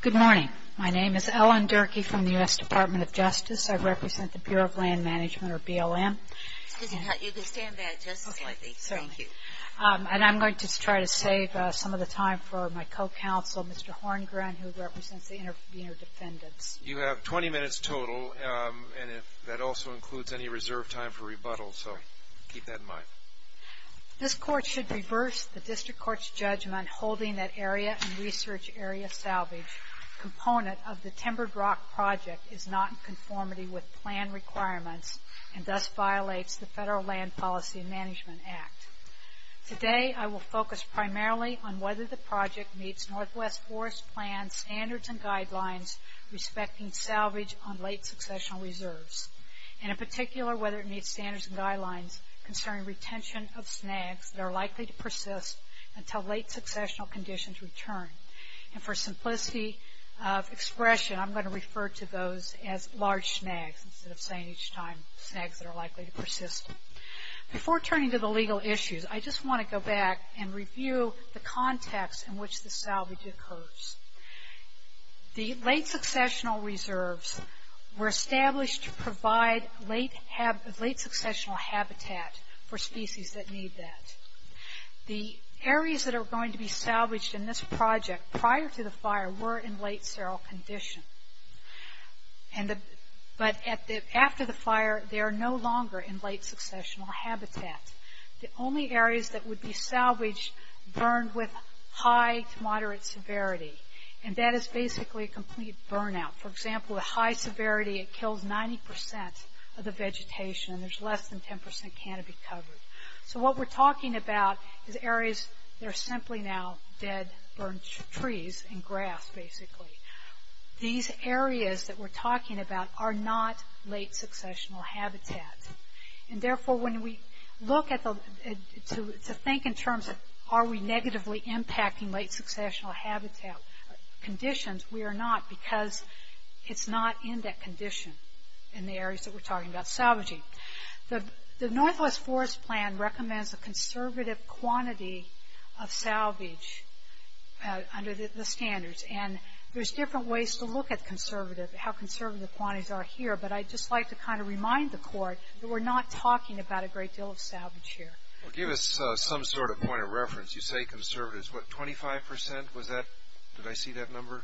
Good morning. My name is Ellen Durkee from the U.S. Department of Justice. I represent the Bureau of Land Management, or BLM. You can stand back just a second. Okay, thank you. And I'm going to try to save some of the time for my co-counsel, Mr. Horngren, who represents the intervener defendants. You have 20 minutes total, and that also includes any reserved time for rebuttal, so keep that in mind. This Court should reverse the District Court's judgment holding that area and research area salvage component of the Timbered Rock Project is not in conformity with plan requirements and thus violates the Federal Land Policy and Management Act. Today, I will focus primarily on whether the project meets Northwest Forest Plan standards and guidelines respecting salvage on late successional reserves, and in particular whether it meets standards and guidelines concerning retention of snags that are likely to persist until late successional conditions return. And for simplicity of expression, I'm going to refer to those as large snags instead of saying each time snags that are likely to persist. Before turning to the legal issues, I just want to go back and review the context in which the salvage occurs. The late successional reserves were established to provide late successional habitat for species that need that. The areas that are going to be salvaged in this project prior to the fire were in late seral condition, but after the fire, they are no longer in late successional habitat. The only areas that would be salvaged burned with high to moderate severity, and that is basically a complete burnout. For example, with high severity, it kills 90% of the vegetation, and there's less than 10% canopy covered. So what we're talking about is areas that are simply now dead, burned trees and grass, basically. These areas that we're talking about are not late successional habitat. And therefore, when we look to think in terms of are we negatively impacting late successional habitat conditions, we are not because it's not in that condition in the areas that we're talking about salvaging. The Northwest Forest Plan recommends a conservative quantity of salvage under the standards, and there's different ways to look at conservative, how conservative quantities are here, but I'd just like to kind of remind the court that we're not talking about a great deal of salvage here. Well, give us some sort of point of reference. You say conservative. What, 25%? Did I see that number?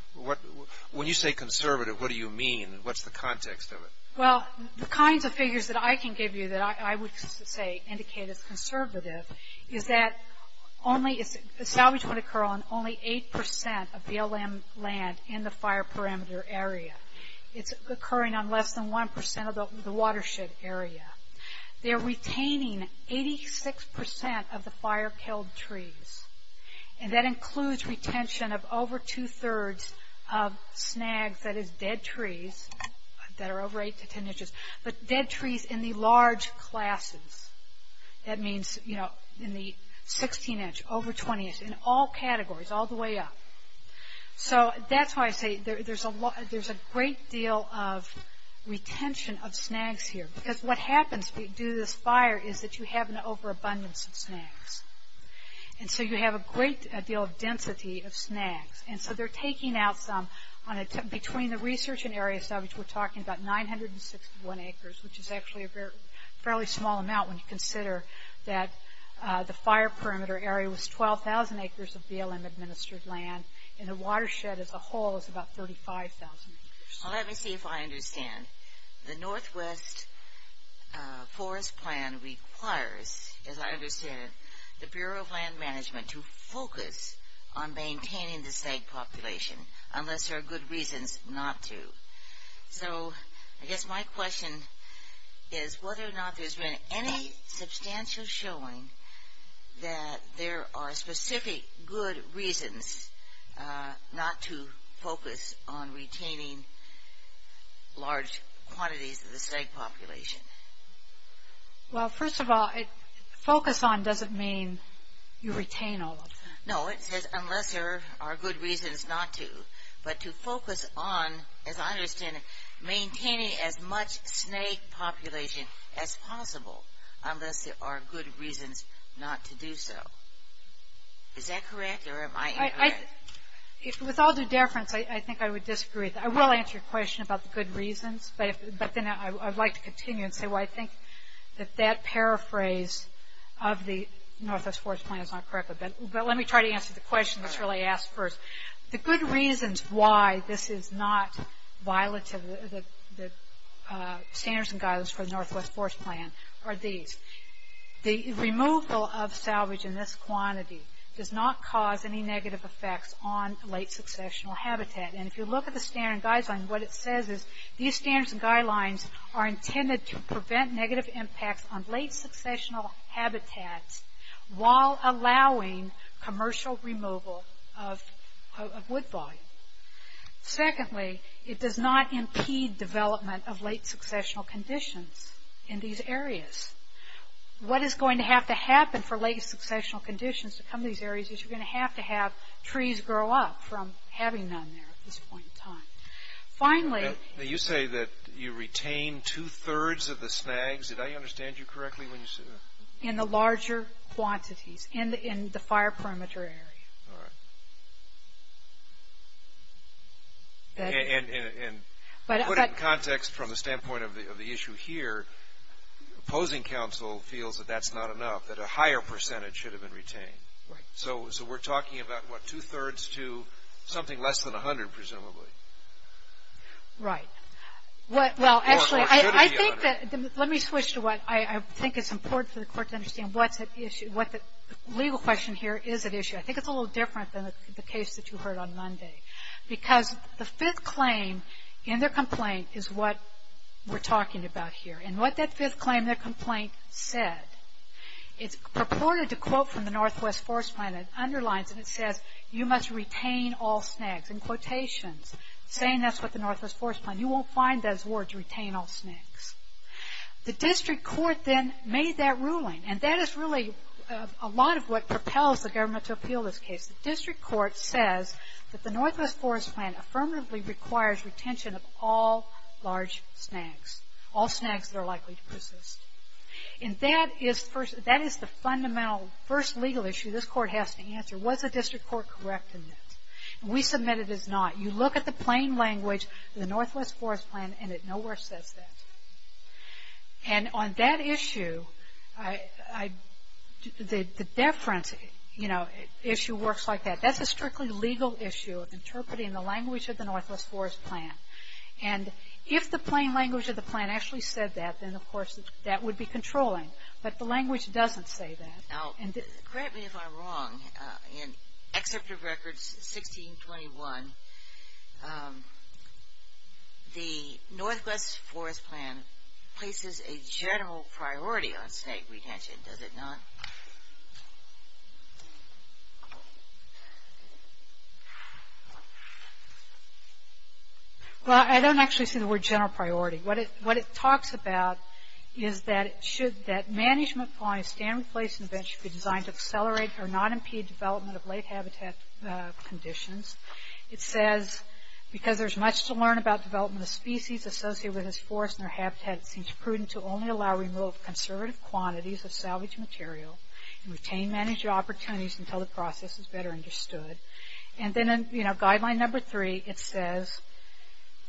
When you say conservative, what do you mean? What's the context of it? Well, the kinds of figures that I can give you that I would say indicate it's conservative is that salvage would occur on only 8% of BLM land in the fire parameter area. It's occurring on less than 1% of the watershed area. They're retaining 86% of the fire-killed trees, and that includes retention of over two-thirds of snags, that is dead trees that are over 8 to 10 inches, but dead trees in the large classes. That means, you know, in the 16 inch, over 20 inch, in all categories, all the way up. So that's why I say there's a great deal of retention of snags here, because what happens when you do this fire is that you have an overabundance of snags, and so you have a great deal of density of snags, and so they're taking out some. Between the research and area salvage, we're talking about 961 acres, which is actually a fairly small amount when you consider that the fire perimeter area was 12,000 acres of BLM administered land, and the watershed as a whole is about 35,000 acres. Well, let me see if I understand. The Northwest Forest Plan requires, as I understand it, the Bureau of Land Management to focus on maintaining the snag population, unless there are good reasons not to. So I guess my question is whether or not there's been any substantial showing that there are specific good reasons not to focus on retaining large quantities of the snag population. Well, first of all, focus on doesn't mean you retain all of them. No, it says unless there are good reasons not to, but to focus on, as I understand it, maintaining as much snag population as possible, unless there are good reasons not to do so. Is that correct, or am I incorrect? With all due deference, I think I would disagree. I will answer your question about the good reasons, but then I'd like to continue and say, well, I think that that paraphrase of the Northwest Forest Plan is not correct. But let me try to answer the question that's really asked first. The good reasons why this is not violative, the standards and guidelines for the Northwest Forest Plan, are these. The removal of salvage in this quantity does not cause any negative effects on late successional habitat. And if you look at the standard guidelines, what it says is these standards and guidelines are intended to prevent negative impacts on late successional habitats while allowing commercial removal of wood volume. Secondly, it does not impede development of late successional conditions in these areas. What is going to have to happen for late successional conditions to come to these areas is you're going to have to have trees grow up from having none there at this point in time. Finally... Now, you say that you retain two-thirds of the snags. Did I understand you correctly when you said that? In the larger quantities, in the fire perimeter area. All right. And put it in context from the standpoint of the issue here, opposing counsel feels that that's not enough, that a higher percentage should have been retained. Right. So we're talking about, what, two-thirds to something less than 100, presumably. Right. Well, actually, I think that... Let me switch to what I think is important for the court to understand. What's at issue, what the legal question here is at issue. I think it's a little different than the case that you heard on Monday. Because the fifth claim in their complaint is what we're talking about here. And what that fifth claim in their complaint said, it's purported to quote from the Northwest Forest Plan. It underlines and it says, you must retain all snags. In quotations, saying that's what the Northwest Forest Plan, you won't find those words, retain all snags. The district court then made that ruling, and that is really a lot of what propels the government to appeal this case. The district court says that the Northwest Forest Plan affirmatively requires retention of all large snags, all snags that are likely to persist. And that is the fundamental first legal issue this court has to answer. Was the district court correct in that? And we submit it is not. You look at the plain language of the Northwest Forest Plan, and it nowhere says that. And on that issue, the deference issue works like that. That's a strictly legal issue, interpreting the language of the Northwest Forest Plan. And if the plain language of the plan actually said that, then, of course, that would be controlling. But the language doesn't say that. Now, correct me if I'm wrong, in Excerpt of Records 1621, the Northwest Forest Plan places a general priority on snag retention, does it not? Well, I don't actually see the word general priority. What it talks about is that should that management plan, a stand-replacement bench be designed to accelerate or not impede development of lake habitat conditions. It says, because there's much to learn about development of species associated with this forest and their habitat, it seems prudent to only allow removal of conservative quantities of salvaged material and retain management opportunities until the process is better understood. And then in, you know, guideline number three, it says,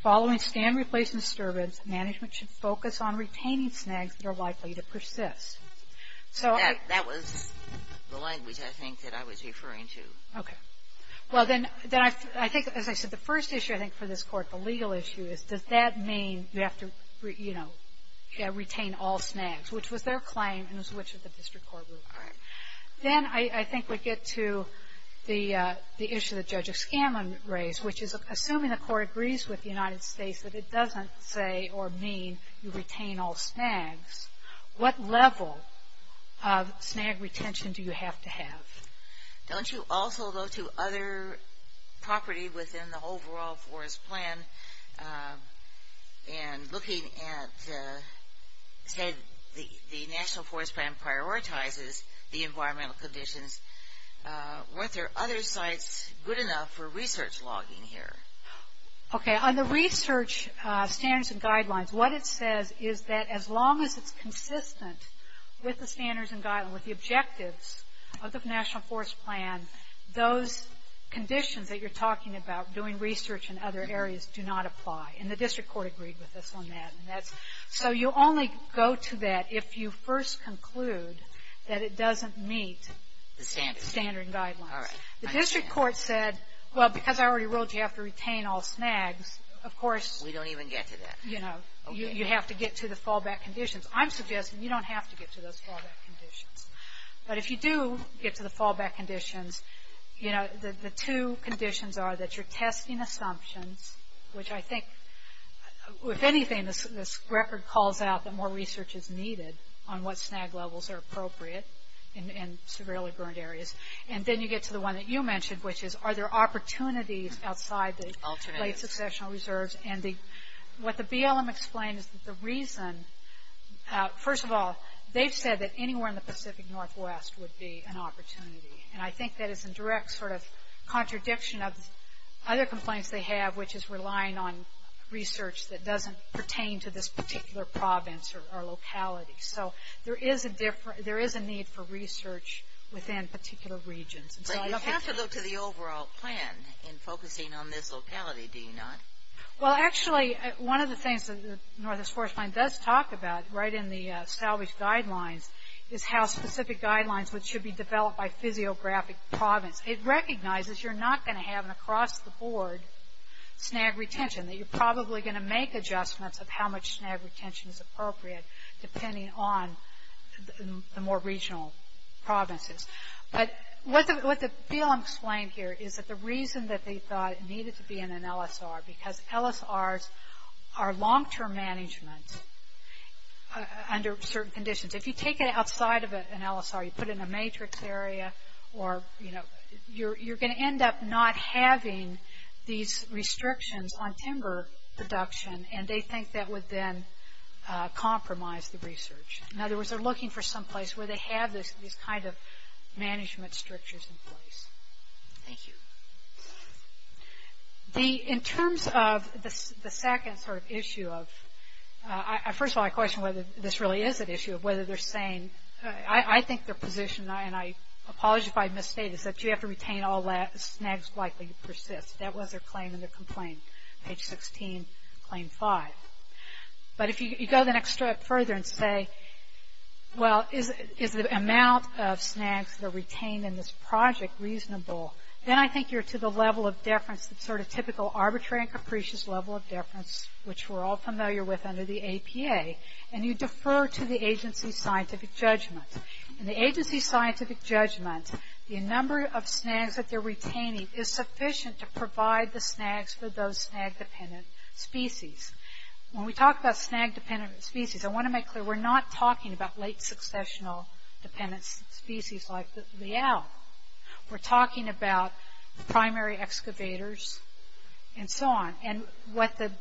following stand-replacement disturbance, management should focus on retaining snags that are likely to persist. So that was the language, I think, that I was referring to. Okay. Well, then I think, as I said, the first issue, I think, for this Court, the legal issue is, does that mean you have to, you know, retain all snags, which was their claim and was which of the district court rules. All right. Then I think we get to the issue that Judge O'Scanlan raised, which is assuming the Court agrees with the United States that it doesn't say or mean you retain all snags. What level of snag retention do you have to have? Don't you also go to other property within the overall forest plan and looking at, say the National Forest Plan prioritizes the environmental conditions, are there other sites good enough for research logging here? Okay. On the research standards and guidelines, what it says is that as long as it's consistent with the standards and guidelines, with the objectives of the National Forest Plan, those conditions that you're talking about, doing research in other areas, do not apply. And the district court agreed with us on that. So you only go to that if you first conclude that it doesn't meet the standard guidelines. All right. The district court said, well, because I already ruled you have to retain all snags, of course, you know, you have to get to the fallback conditions. I'm suggesting you don't have to get to those fallback conditions. But if you do get to the fallback conditions, you know, the two conditions are that you're testing assumptions, which I think, if anything, this record calls out that more research is needed on what snag levels are appropriate in severely burned areas. And then you get to the one that you mentioned, which is are there opportunities outside the late successional reserves. And what the BLM explained is that the reason, first of all, they've said that anywhere in the Pacific Northwest would be an opportunity. And I think that is a direct sort of contradiction of other complaints they have, which is relying on research that doesn't pertain to this particular province or locality. So there is a need for research within particular regions. But you have to look to the overall plan in focusing on this locality, do you not? Well, actually, one of the things that the Northwest Forest Fund does talk about, right in the salvage guidelines, is how specific guidelines which should be developed by physiographic province. It recognizes you're not going to have an across-the-board snag retention, that you're probably going to make adjustments of how much snag retention is appropriate, depending on the more regional provinces. But what the BLM explained here is that the reason that they thought it needed to be in an LSR, because LSRs are long-term management under certain conditions. If you take it outside of an LSR, you put it in a matrix area, you're going to end up not having these restrictions on timber production, and they think that would then compromise the research. In other words, they're looking for some place where they have these kind of management structures in place. Thank you. In terms of the second sort of issue of, first of all, I question whether this really is an issue, whether they're saying, I think their position, and I apologize if I misstated, is that you have to retain all snags likely to persist. That was their claim in the complaint, page 16, claim 5. But if you go the next step further and say, well, is the amount of snags that are retained in this project reasonable, then I think you're to the level of deference, the sort of typical arbitrary and capricious level of deference, which we're all familiar with under the APA. And you defer to the agency's scientific judgment. In the agency's scientific judgment, the number of snags that they're retaining is sufficient to provide the snags for those snag-dependent species. When we talk about snag-dependent species, I want to make clear, we're not talking about late successional dependent species like the leal. We're talking about primary excavators and so on. And what the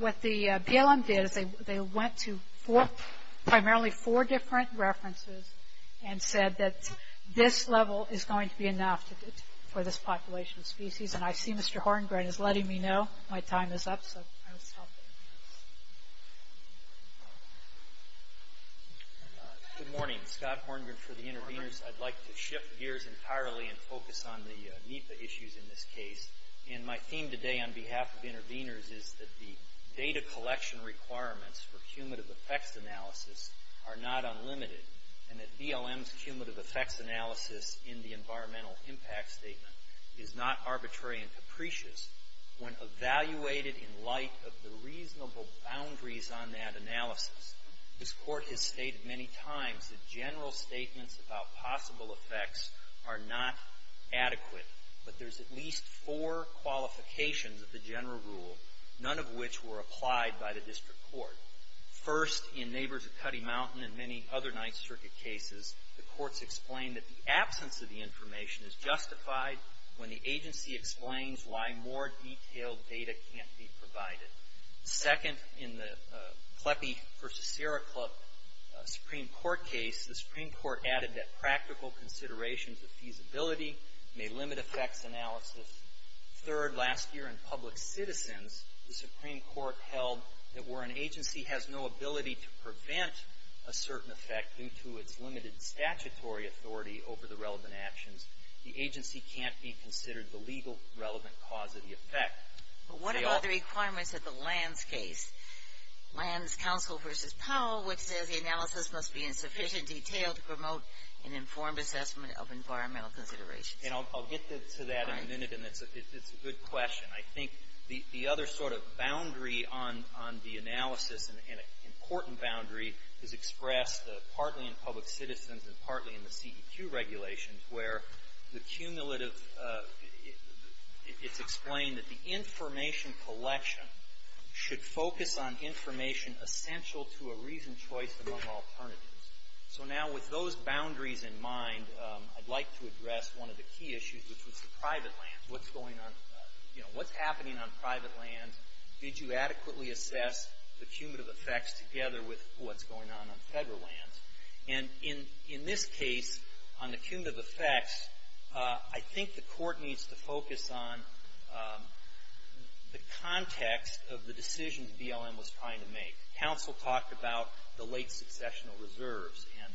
BLM did is they went to primarily four different references and said that this level is going to be enough for this population of species. And I see Mr. Horngren is letting me know my time is up, so I will stop there. Good morning. Scott Horngren for the interveners. I'd like to shift gears entirely and focus on the NEPA issues in this case. And my theme today on behalf of interveners is that the data collection requirements for cumulative effects analysis are not unlimited, and that BLM's cumulative effects analysis in the environmental impact statement is not arbitrary and capricious. When evaluated in light of the reasonable boundaries on that analysis, this Court has stated many times that general statements about possible effects are not adequate, but there's at least four qualifications of the general rule, none of which were applied by the district court. First, in Neighbors of Cutty Mountain and many other Ninth Circuit cases, the courts explained that the absence of the information is justified when the agency explains why more detailed data can't be provided. Second, in the Kleppe v. Sierra Club Supreme Court case, the Supreme Court added that practical considerations of feasibility may limit effects analysis. Third, last year in Public Citizens, the Supreme Court held that where an agency has no ability to prevent a certain effect due to its limited statutory authority over the relevant actions, the agency can't be considered the legal relevant cause of the effect. But what about the requirements of the Lands case? Lands Council v. Powell, which says the analysis must be in sufficient detail to promote an informed assessment of environmental considerations. And I'll get to that in a minute, and it's a good question. I think the other sort of boundary on the analysis, an important boundary, is expressed partly in Public Citizens and partly in the CEQ regulations, where the cumulative, it's explained that the information collection should focus on information essential to a reasoned choice among alternatives. So now with those boundaries in mind, I'd like to address one of the key issues, which was the private land. What's going on, you know, what's happening on private land? Did you adequately assess the cumulative effects together with what's going on on Federal lands? And in this case, on the cumulative effects, I think the Court needs to focus on the context of the decisions BLM was trying to make. Council talked about the late successional reserves and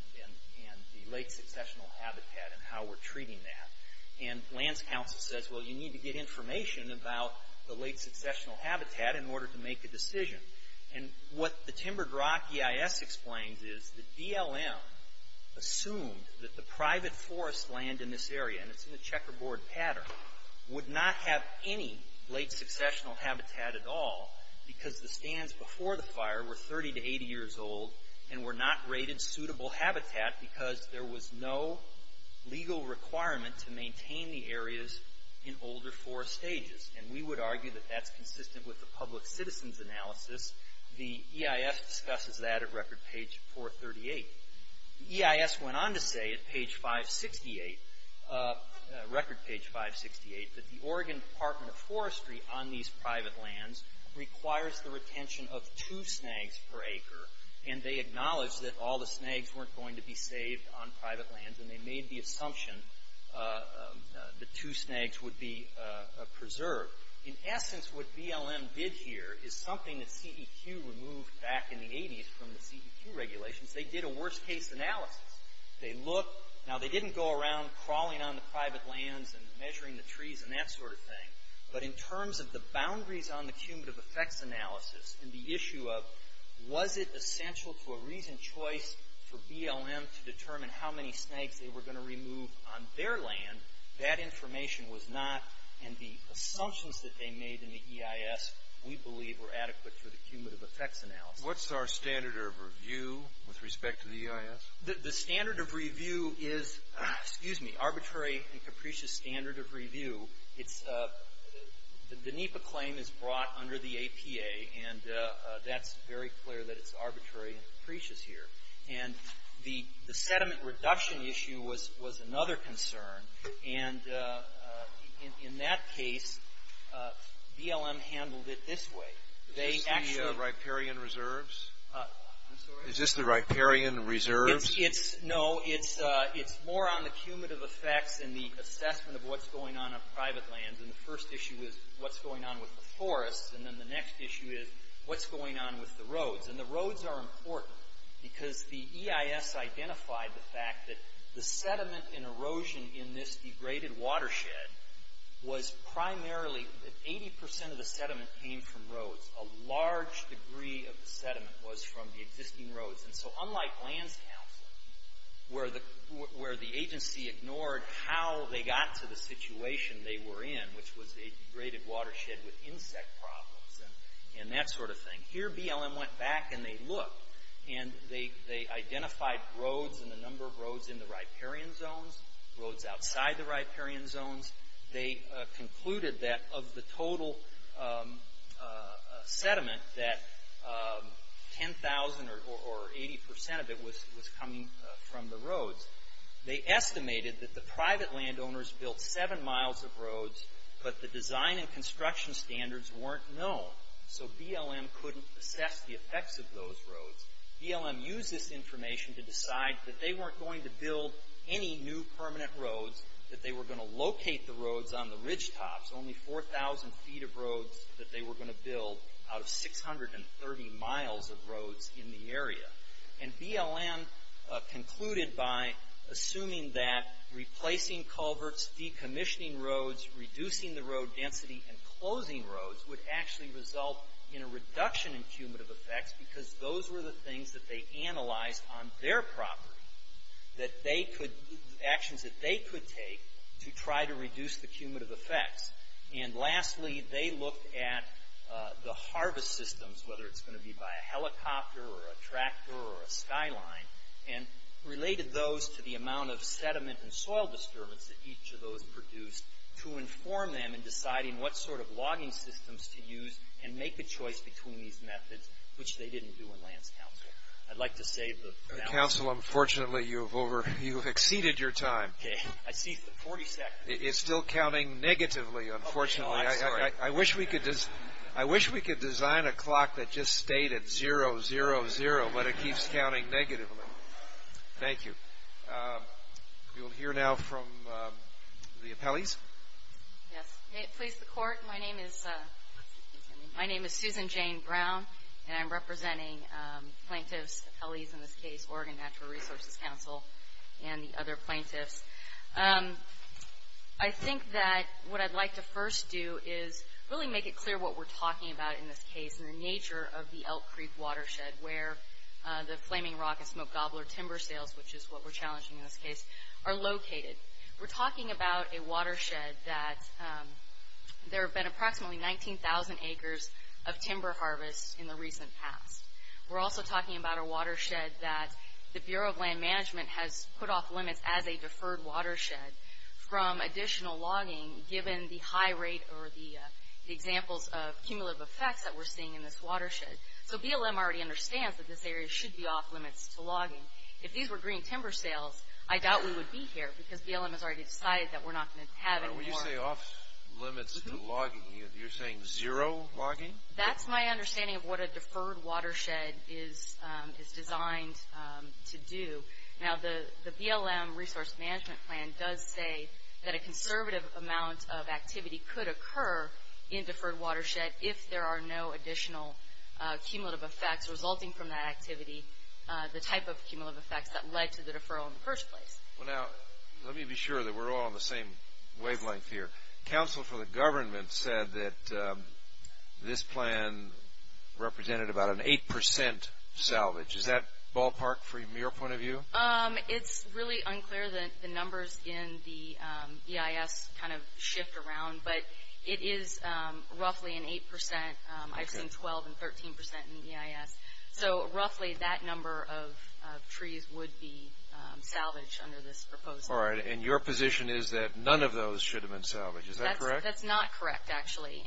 the late successional habitat and how we're treating that. And Lands Council says, well, you need to get information about the late successional habitat in order to make a decision. And what the Timbered Rock EIS explains is that BLM assumed that the private forest land in this area, and it's in a checkerboard pattern, would not have any late successional habitat at all because the stands before the fire were 30 to 80 years old and were not rated suitable habitat because there was no legal requirement to maintain the areas in older forest stages. And we would argue that that's consistent with the public citizen's analysis. The EIS discusses that at record page 438. The EIS went on to say at page 568, record page 568, that the Oregon Department of Forestry on these private lands requires the retention of two snags per acre. And they acknowledged that all the snags weren't going to be saved on private lands, and they made the assumption that two snags would be preserved. In essence, what BLM did here is something that CEQ removed back in the 80s from the CEQ regulations. They did a worst-case analysis. They looked. Now, they didn't go around crawling on the private lands and measuring the trees and that sort of thing. But in terms of the boundaries on the cumulative effects analysis and the issue of, was it essential to a reasoned choice for BLM to determine how many snags they were going to remove on their land? That information was not, and the assumptions that they made in the EIS, we believe, were adequate for the cumulative effects analysis. What's our standard of review with respect to the EIS? The standard of review is, excuse me, arbitrary and capricious standard of review. The NEPA claim is brought under the APA, and that's very clear that it's arbitrary and capricious here. And the sediment reduction issue was another concern. And in that case, BLM handled it this way. Is this the riparian reserves? I'm sorry? Is this the riparian reserves? It's, no, it's more on the cumulative effects and the assessment of what's going on on private lands. And the first issue is what's going on with the forests. And then the next issue is what's going on with the roads. And the roads are important because the EIS identified the fact that the sediment and erosion in this degraded watershed was primarily, 80 percent of the sediment came from roads. A large degree of the sediment was from the existing roads. And so unlike lands counseling, where the agency ignored how they got to the situation they were in, which was a degraded watershed with insect problems and that sort of thing, here BLM went back and they looked. And they identified roads and the number of roads in the riparian zones, roads outside the riparian zones. They concluded that of the total sediment, that 10,000 or 80 percent of it was coming from the roads. They estimated that the private landowners built seven miles of roads, but the design and construction standards weren't known. So BLM couldn't assess the effects of those roads. BLM used this information to decide that they weren't going to build any new permanent roads, that they were going to locate the roads on the ridgetops. Only 4,000 feet of roads that they were going to build out of 630 miles of roads in the area. And BLM concluded by assuming that replacing culverts, decommissioning roads, reducing the road density and closing roads would actually result in a reduction in cumulative effects because those were the things that they analyzed on their property. Actions that they could take to try to reduce the cumulative effects. And lastly, they looked at the harvest systems, whether it's going to be by a helicopter or a tractor or a skyline, and related those to the amount of sediment and soil disturbance that each of those produced to inform them in deciding what sort of logging systems to use and make a choice between these methods, which they didn't do in Lands Council. I'd like to save the balance. Council, unfortunately, you've exceeded your time. I see the 40 seconds. It's still counting negatively, unfortunately. I wish we could design a clock that just stayed at 0, 0, 0, but it keeps counting negatively. Thank you. We will hear now from the appellees. Yes, please, the court. My name is Susan Jane Brown, and I'm representing plaintiffs, appellees in this case, Oregon Natural Resources Council and the other plaintiffs. I think that what I'd like to first do is really make it clear what we're talking about in this case and the nature of the Elk Creek watershed where the flaming rock and smoke gobbler timber sales, which is what we're challenging in this case, are located. We're talking about a watershed that there have been approximately 19,000 acres of timber harvest in the recent past. We're also talking about a watershed that the Bureau of Land Management has put off limits as a deferred watershed from additional logging given the high rate or the examples of cumulative effects that we're seeing in this watershed. So BLM already understands that this area should be off limits to logging. If these were green timber sales, I doubt we would be here because BLM has already decided that we're not going to have any more. When you say off limits to logging, you're saying zero logging? That's my understanding of what a deferred watershed is designed to do. Now, the BLM Resource Management Plan does say that a conservative amount of activity could occur in deferred watershed if there are no additional cumulative effects resulting from that activity, the type of cumulative effects that led to the deferral in the first place. Well, now, let me be sure that we're all on the same wavelength here. Counsel for the government said that this plan represented about an 8% salvage. It's really unclear that the numbers in the EIS kind of shift around, but it is roughly an 8%. I've seen 12% and 13% in the EIS. So roughly that number of trees would be salvaged under this proposal. All right, and your position is that none of those should have been salvaged, is that correct? That's not correct, actually.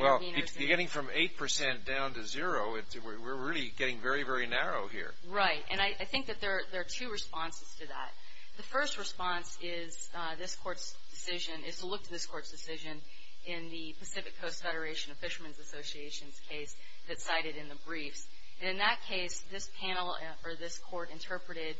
Well, you're getting from 8% down to zero. We're really getting very, very narrow here. Right, and I think that there are two responses to that. The first response is this Court's decision, is to look to this Court's decision, in the Pacific Coast Federation of Fishermen's Association's case that's cited in the briefs. In that case, this panel or this Court interpreted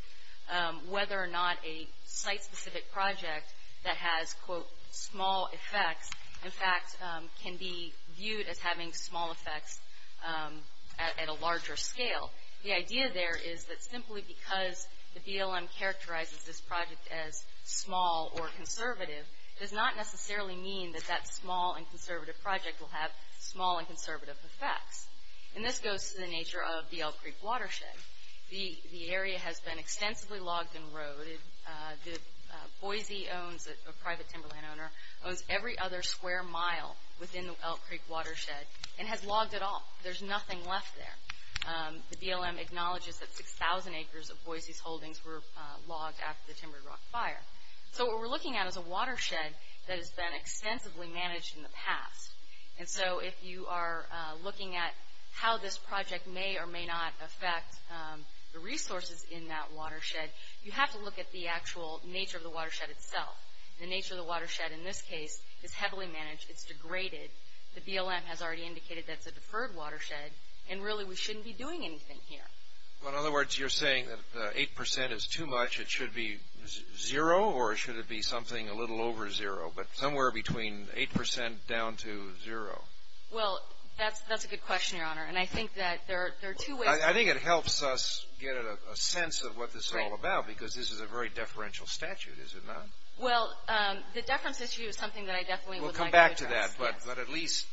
whether or not a site-specific project that has, quote, small effects, in fact, can be viewed as having small effects at a larger scale. The idea there is that simply because the BLM characterizes this project as small or conservative, does not necessarily mean that that small and conservative project will have small and conservative effects. And this goes to the nature of the Elk Creek Watershed. The area has been extensively logged and roaded. Boise owns, a private timberland owner, owns every other square mile within the Elk Creek Watershed and has logged it all. There's nothing left there. The BLM acknowledges that 6,000 acres of Boise's holdings were logged after the Timber Rock Fire. So what we're looking at is a watershed that has been extensively managed in the past. And so if you are looking at how this project may or may not affect the resources in that watershed, you have to look at the actual nature of the watershed itself. The nature of the watershed in this case is heavily managed. It's degraded. The BLM has already indicated that it's a deferred watershed, and really we shouldn't be doing anything here. In other words, you're saying that 8% is too much. It should be zero or should it be something a little over zero, but somewhere between 8% down to zero. Well, that's a good question, Your Honor, and I think that there are two ways. I think it helps us get a sense of what this is all about because this is a very deferential statute, is it not? Well, the deference issue is something that I definitely would like to address. Yes. But at least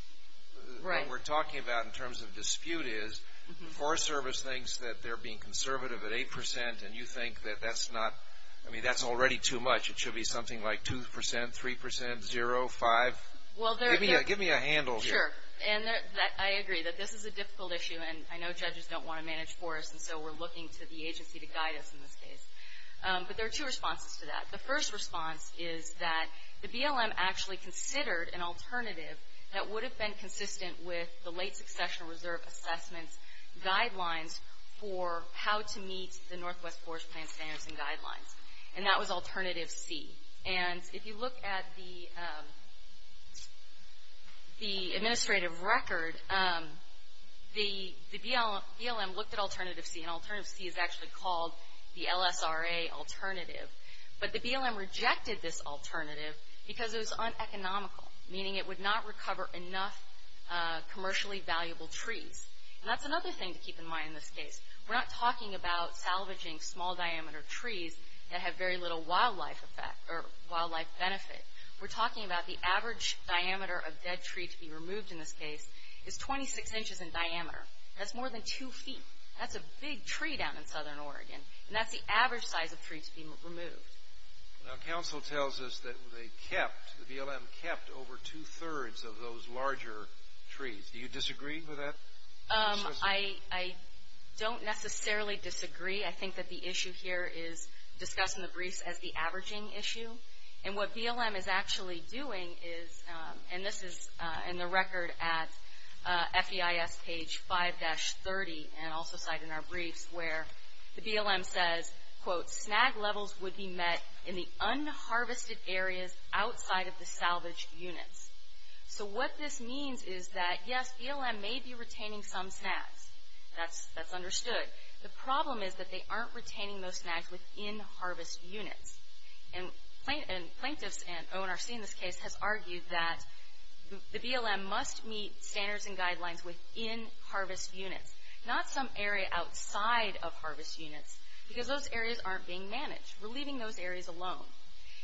what we're talking about in terms of dispute is the Forest Service thinks that they're being conservative at 8% and you think that that's already too much. It should be something like 2%, 3%, zero, five. Give me a handle here. Sure, and I agree that this is a difficult issue, and I know judges don't want to manage forests, and so we're looking to the agency to guide us in this case. But there are two responses to that. The first response is that the BLM actually considered an alternative that would have been consistent with the late succession reserve assessments guidelines for how to meet the Northwest Forest Plan standards and guidelines, and that was Alternative C. And if you look at the administrative record, the BLM looked at Alternative C, and Alternative C is actually called the LSRA alternative. But the BLM rejected this alternative because it was uneconomical, meaning it would not recover enough commercially valuable trees. And that's another thing to keep in mind in this case. We're not talking about salvaging small diameter trees that have very little wildlife benefit. We're talking about the average diameter of dead tree to be removed in this case is 26 inches in diameter. That's more than two feet. That's a big tree down in southern Oregon, and that's the average size of tree to be removed. Now, counsel tells us that they kept, the BLM kept over two-thirds of those larger trees. Do you disagree with that? I don't necessarily disagree. I think that the issue here is discussing the briefs as the averaging issue, and what BLM is actually doing is, and this is in the record at FEIS page 5-30, and also cited in our briefs, where the BLM says, quote, snag levels would be met in the unharvested areas outside of the salvaged units. So what this means is that, yes, BLM may be retaining some snags. That's understood. The problem is that they aren't retaining those snags within harvest units. And plaintiffs and ONRC in this case has argued that the BLM must meet standards and guidelines within harvest units, not some area outside of harvest units, because those areas aren't being managed. We're leaving those areas alone.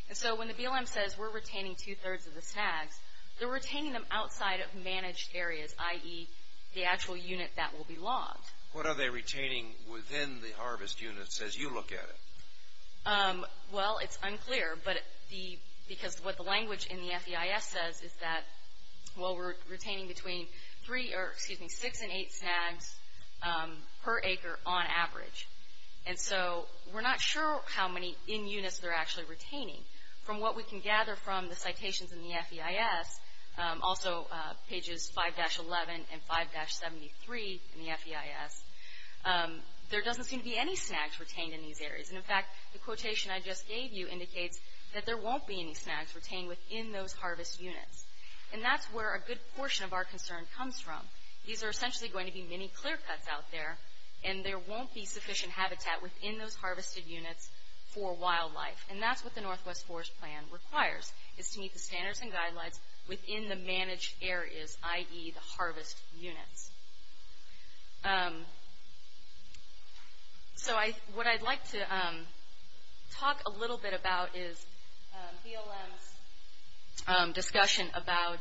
And so when the BLM says we're retaining two-thirds of the snags, they're retaining them outside of managed areas, i.e. the actual unit that will be logged. What are they retaining within the harvest units as you look at it? Well, it's unclear, because what the language in the FEIS says is that, well, we're retaining between six and eight snags per acre on average. And so we're not sure how many in units they're actually retaining. From what we can gather from the citations in the FEIS, also pages 5-11 and 5-73 in the FEIS, there doesn't seem to be any snags retained in these areas. And, in fact, the quotation I just gave you indicates that there won't be any snags retained within those harvest units. And that's where a good portion of our concern comes from. These are essentially going to be mini-clear cuts out there, and there won't be sufficient habitat within those harvested units for wildlife. And that's what the Northwest Forest Plan requires, is to meet the standards and guidelines within the managed areas, i.e. the harvest units. So what I'd like to talk a little bit about is BLM's discussion about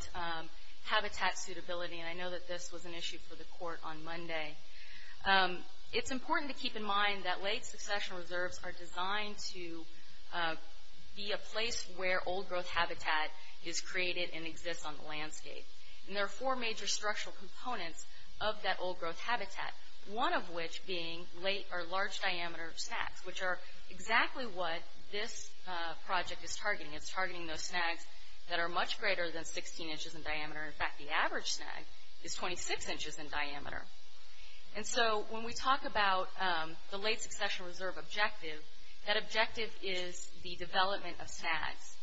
habitat suitability. And I know that this was an issue for the court on Monday. It's important to keep in mind that late succession reserves are designed to be a place where old growth habitat is created and exists on the landscape. And there are four major structural components of that old growth habitat, one of which being late or large diameter snags, which are exactly what this project is targeting. It's targeting those snags that are much greater than 16 inches in diameter. In fact, the average snag is 26 inches in diameter. And so when we talk about the late succession reserve objective, that objective is the development of snags.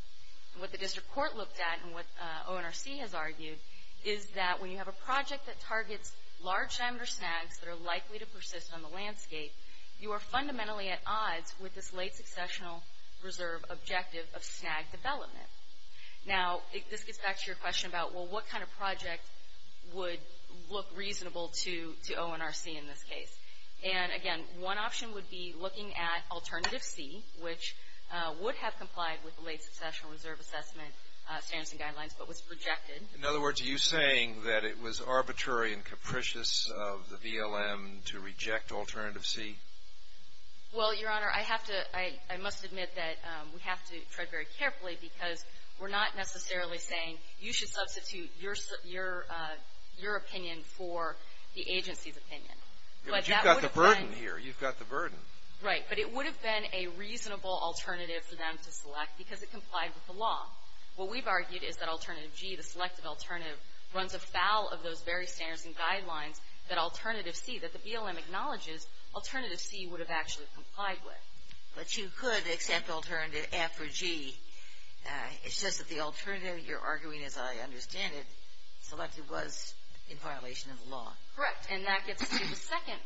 What the district court looked at, and what ONRC has argued, is that when you have a project that targets large diameter snags that are likely to persist on the landscape, you are fundamentally at odds with this late successional reserve objective of snag development. Now, this gets back to your question about, well, what kind of project would look reasonable to ONRC in this case? And, again, one option would be looking at Alternative C, which would have complied with the late successional reserve assessment standards and guidelines, but was rejected. In other words, are you saying that it was arbitrary and capricious of the BLM to reject Alternative C? Well, Your Honor, I must admit that we have to tread very carefully because we're not necessarily saying you should substitute your opinion for the agency's opinion. But you've got the burden here. You've got the burden. Right. But it would have been a reasonable alternative for them to select because it complied with the law. What we've argued is that Alternative G, the selective alternative, runs afoul of those very standards and guidelines that Alternative C, that the BLM acknowledges Alternative C would have actually complied with. But you could accept Alternative F or G. It's just that the alternative, you're arguing, as I understand it, selected was in violation of the law. Correct. And that gets to the second,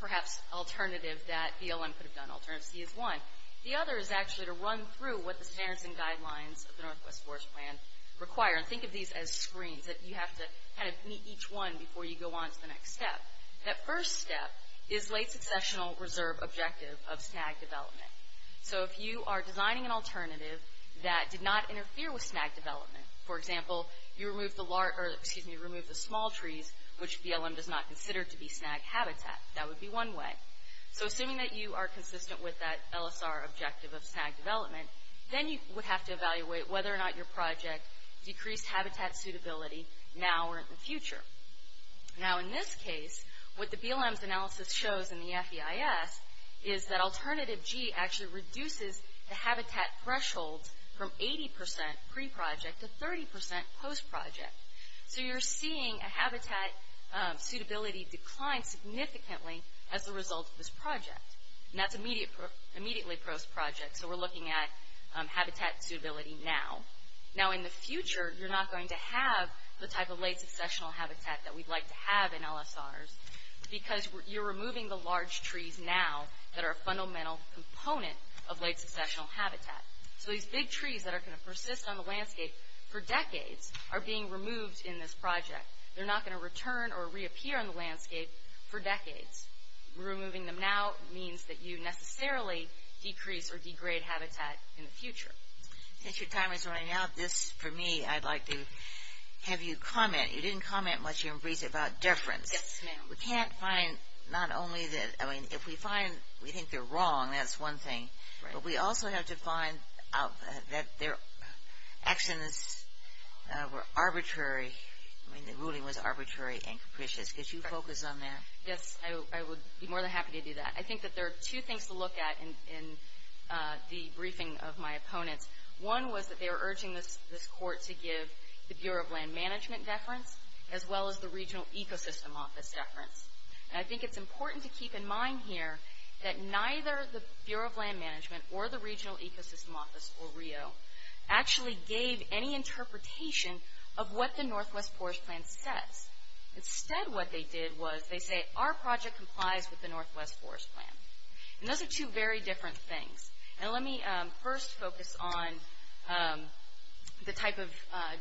perhaps, alternative that BLM could have done. Alternative C is one. The other is actually to run through what the standards and guidelines of the Northwest Forest Plan require. And think of these as screens that you have to kind of meet each one before you go on to the next step. That first step is late successional reserve objective of snag development. So if you are designing an alternative that did not interfere with snag development, for example, you remove the small trees, which BLM does not consider to be snag habitat. That would be one way. So assuming that you are consistent with that LSR objective of snag development, then you would have to evaluate whether or not your project decreased habitat suitability now or in the future. Now, in this case, what the BLM's analysis shows in the FEIS is that Alternative G actually reduces the habitat threshold from 80% pre-project to 30% post-project. So you're seeing a habitat suitability decline significantly as a result of this project. And that's immediately post-project. So we're looking at habitat suitability now. Now, in the future, you're not going to have the type of late successional habitat that we'd like to have in LSRs because you're removing the large trees now that are a fundamental component of late successional habitat. So these big trees that are going to persist on the landscape for decades are being removed in this project. They're not going to return or reappear on the landscape for decades. Removing them now means that you necessarily decrease or degrade habitat in the future. Since your time is running out, this, for me, I'd like to have you comment. You didn't comment much in recent about difference. Yes, ma'am. We can't find not only that, I mean, if we find we think they're wrong, that's one thing. But we also have to find that their actions were arbitrary. I mean, the ruling was arbitrary and capricious. Could you focus on that? Yes, I would be more than happy to do that. I think that there are two things to look at in the briefing of my opponents. One was that they were urging this court to give the Bureau of Land Management deference as well as the Regional Ecosystem Office deference. And I think it's important to keep in mind here that neither the Bureau of Land Management or the Regional Ecosystem Office or RIO actually gave any interpretation of what the Northwest Forest Plan says. Instead, what they did was they say, our project complies with the Northwest Forest Plan. And those are two very different things. Now, let me first focus on the type of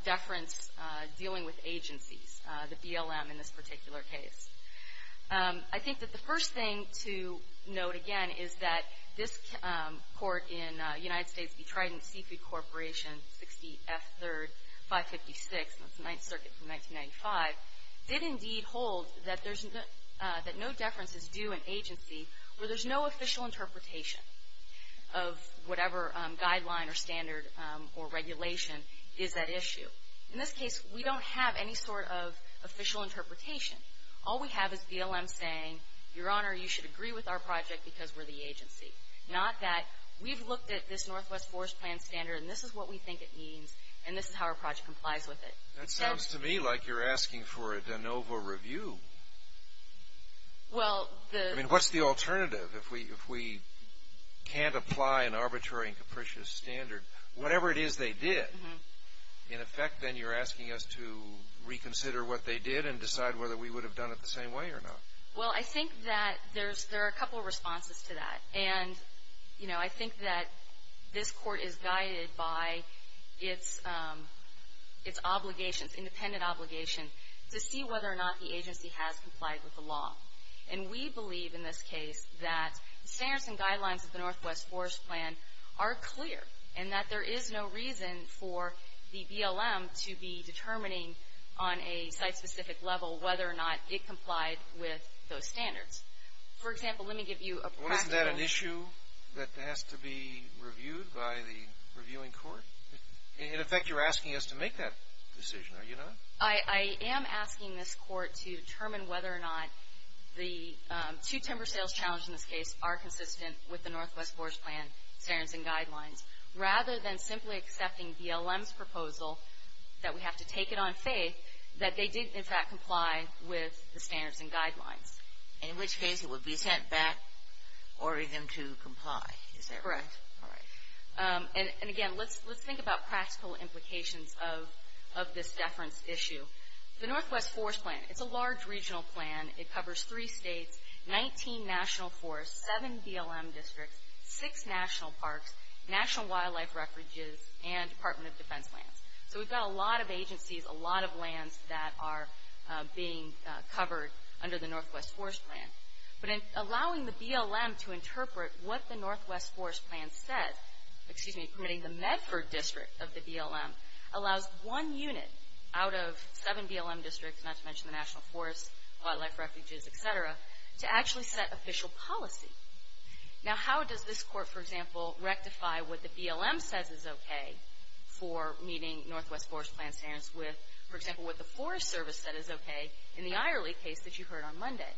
deference dealing with agencies, the BLM in this particular case. I think that the first thing to note, again, is that this court in the United States, the Trident Seafood Corporation, 60 F. 3rd, 556, that's the Ninth Circuit from 1995, did indeed hold that no deference is due an agency where there's no official interpretation of whatever guideline or standard or regulation is at issue. In this case, we don't have any sort of official interpretation. All we have is BLM saying, Your Honor, you should agree with our project because we're the agency, not that we've looked at this Northwest Forest Plan standard and this is what we think it means and this is how our project complies with it. That sounds to me like you're asking for a de novo review. I mean, what's the alternative if we can't apply an arbitrary and capricious standard? Whatever it is they did, in effect, then you're asking us to reconsider what they did and decide whether we would have done it the same way or not. Well, I think that there are a couple of responses to that. And, you know, I think that this Court is guided by its obligations, independent obligation, to see whether or not the agency has complied with the law. And we believe in this case that the standards and guidelines of the Northwest Forest Plan are clear and that there is no reason for the BLM to be determining on a site-specific level whether or not it complied with those standards. For example, let me give you a practical... Well, isn't that an issue that has to be reviewed by the reviewing court? In effect, you're asking us to make that decision, are you not? I am asking this Court to determine whether or not the two timber sales challenges in this case are consistent with the Northwest Forest Plan standards and guidelines, rather than simply accepting BLM's proposal that we have to take it on faith and in which case it would be sent back ordering them to comply. Is that right? Correct. All right. And, again, let's think about practical implications of this deference issue. The Northwest Forest Plan, it's a large regional plan. It covers three states, 19 national forests, seven BLM districts, six national parks, National Wildlife Refuges, and Department of Defense lands. So we've got a lot of agencies, a lot of lands that are being covered under the Northwest Forest Plan. But in allowing the BLM to interpret what the Northwest Forest Plan said, excuse me, permitting the Medford district of the BLM, allows one unit out of seven BLM districts, not to mention the national forests, wildlife refuges, et cetera, to actually set official policy. Now, how does this court, for example, rectify what the BLM says is okay for meeting Northwest Forest Plan standards with, for example, what the Forest Service said is okay in the Eyerly case that you heard on Monday?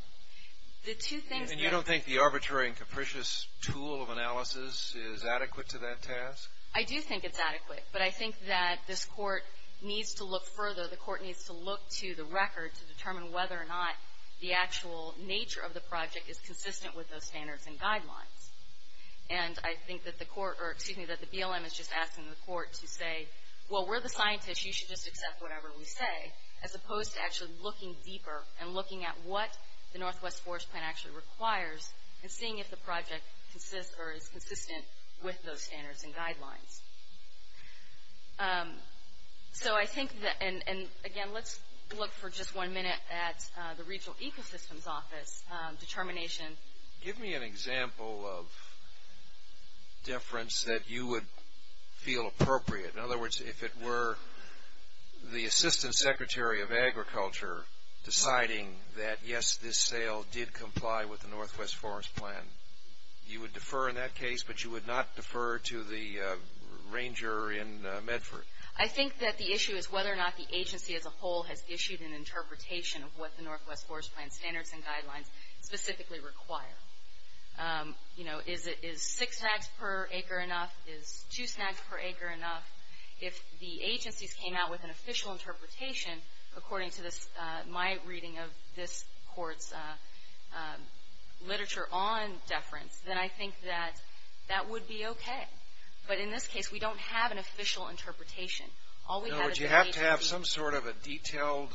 The two things that... And you don't think the arbitrary and capricious tool of analysis is adequate to that task? I do think it's adequate, but I think that this court needs to look further. The court needs to look to the record to determine whether or not the actual nature of the project is consistent with those standards and guidelines. And I think that the BLM is just asking the court to say, well, we're the scientists, you should just accept whatever we say, as opposed to actually looking deeper and looking at what the Northwest Forest Plan actually requires and seeing if the project is consistent with those standards and guidelines. So I think, and again, let's look for just one minute at the Regional Ecosystems Office determination... Give me an example of deference that you would feel appropriate. In other words, if it were the Assistant Secretary of Agriculture deciding that, yes, this sale did comply with the Northwest Forest Plan, you would defer in that case, but you would not defer to the ranger in Medford? I think that the issue is whether or not the agency as a whole has issued an interpretation of what the Northwest Forest Plan standards and guidelines specifically require. You know, is six snags per acre enough? Is two snags per acre enough? If the agencies came out with an official interpretation, according to my reading of this court's literature on deference, then I think that that would be okay. But in this case, we don't have an official interpretation. Would you have to have some sort of a detailed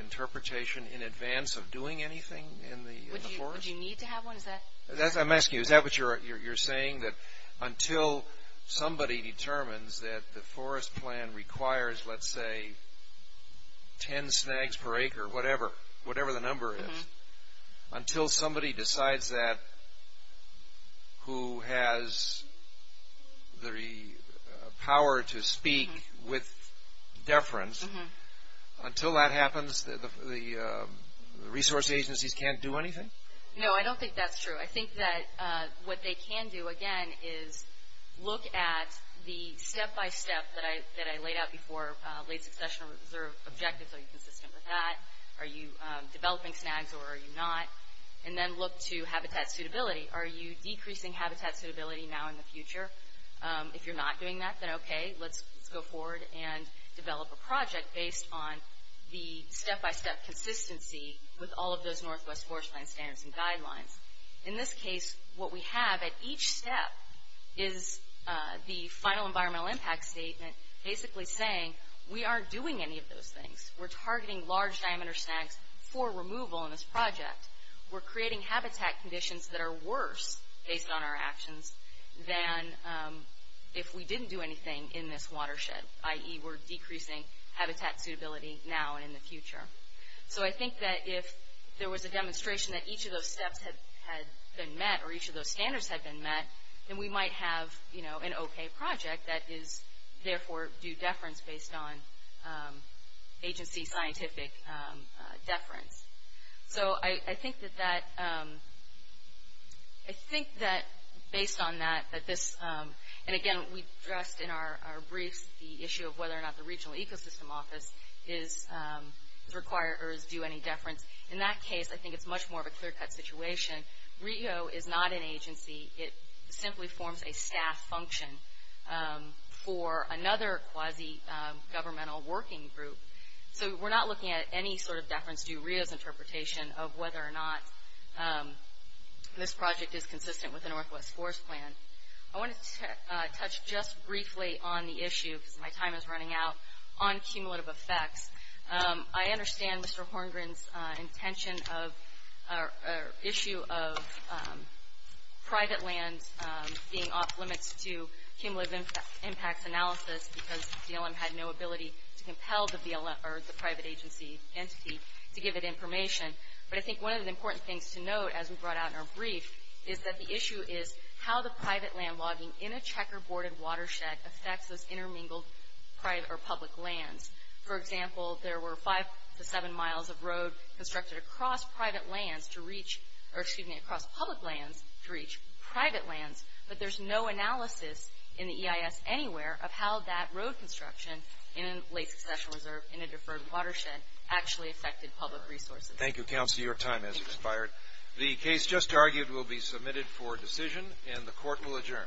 interpretation in advance of doing anything in the forest? Would you need to have one? I'm asking you, is that what you're saying? That until somebody determines that the forest plan requires, let's say, ten snags per acre, whatever the number is, until somebody decides that who has the power to speak with deference, until that happens, the resource agencies can't do anything? No, I don't think that's true. I think that what they can do, again, is look at the step-by-step that I laid out before, late succession reserve objectives, are you consistent with that? Are you developing snags or are you not? And then look to habitat suitability. Are you decreasing habitat suitability now in the future? If you're not doing that, then okay, let's go forward and develop a project based on the step-by-step consistency with all of those Northwest Forest Plan standards and guidelines. In this case, what we have at each step is the final environmental impact statement, basically saying we aren't doing any of those things. We're targeting large diameter snags for removal in this project. We're creating habitat conditions that are worse based on our actions than if we didn't do anything in this watershed, i.e. we're decreasing habitat suitability now and in the future. So I think that if there was a demonstration that each of those steps had been met or each of those standards had been met, then we might have an okay project that is therefore due deference based on agency scientific deference. So I think that based on that, and again, we addressed in our briefs the issue of whether or not the Regional Ecosystem Office is required or is due any deference. In that case, I think it's much more of a clear-cut situation. RIO is not an agency. It simply forms a staff function for another quasi-governmental working group. So we're not looking at any sort of deference due RIO's interpretation of whether or not this project is consistent with the Northwest Forest Plan. I want to touch just briefly on the issue, because my time is running out, on cumulative effects. I understand Mr. Horngren's intention or issue of private lands being off limits to cumulative impacts analysis because DLM had no ability to compel the private agency entity to give it information. But I think one of the important things to note, as we brought out in our brief, is that the issue is how the private land logging in a checkerboarded watershed affects those intermingled private or public lands. For example, there were five to seven miles of road constructed across private lands to reach, or excuse me, across public lands to reach private lands, but there's no analysis in the EIS anywhere of how that road construction in Lake Succession Reserve in a deferred watershed actually affected public resources. Thank you, Counselor. Your time has expired. Thank you. The case just argued will be submitted for decision, and the Court will adjourn.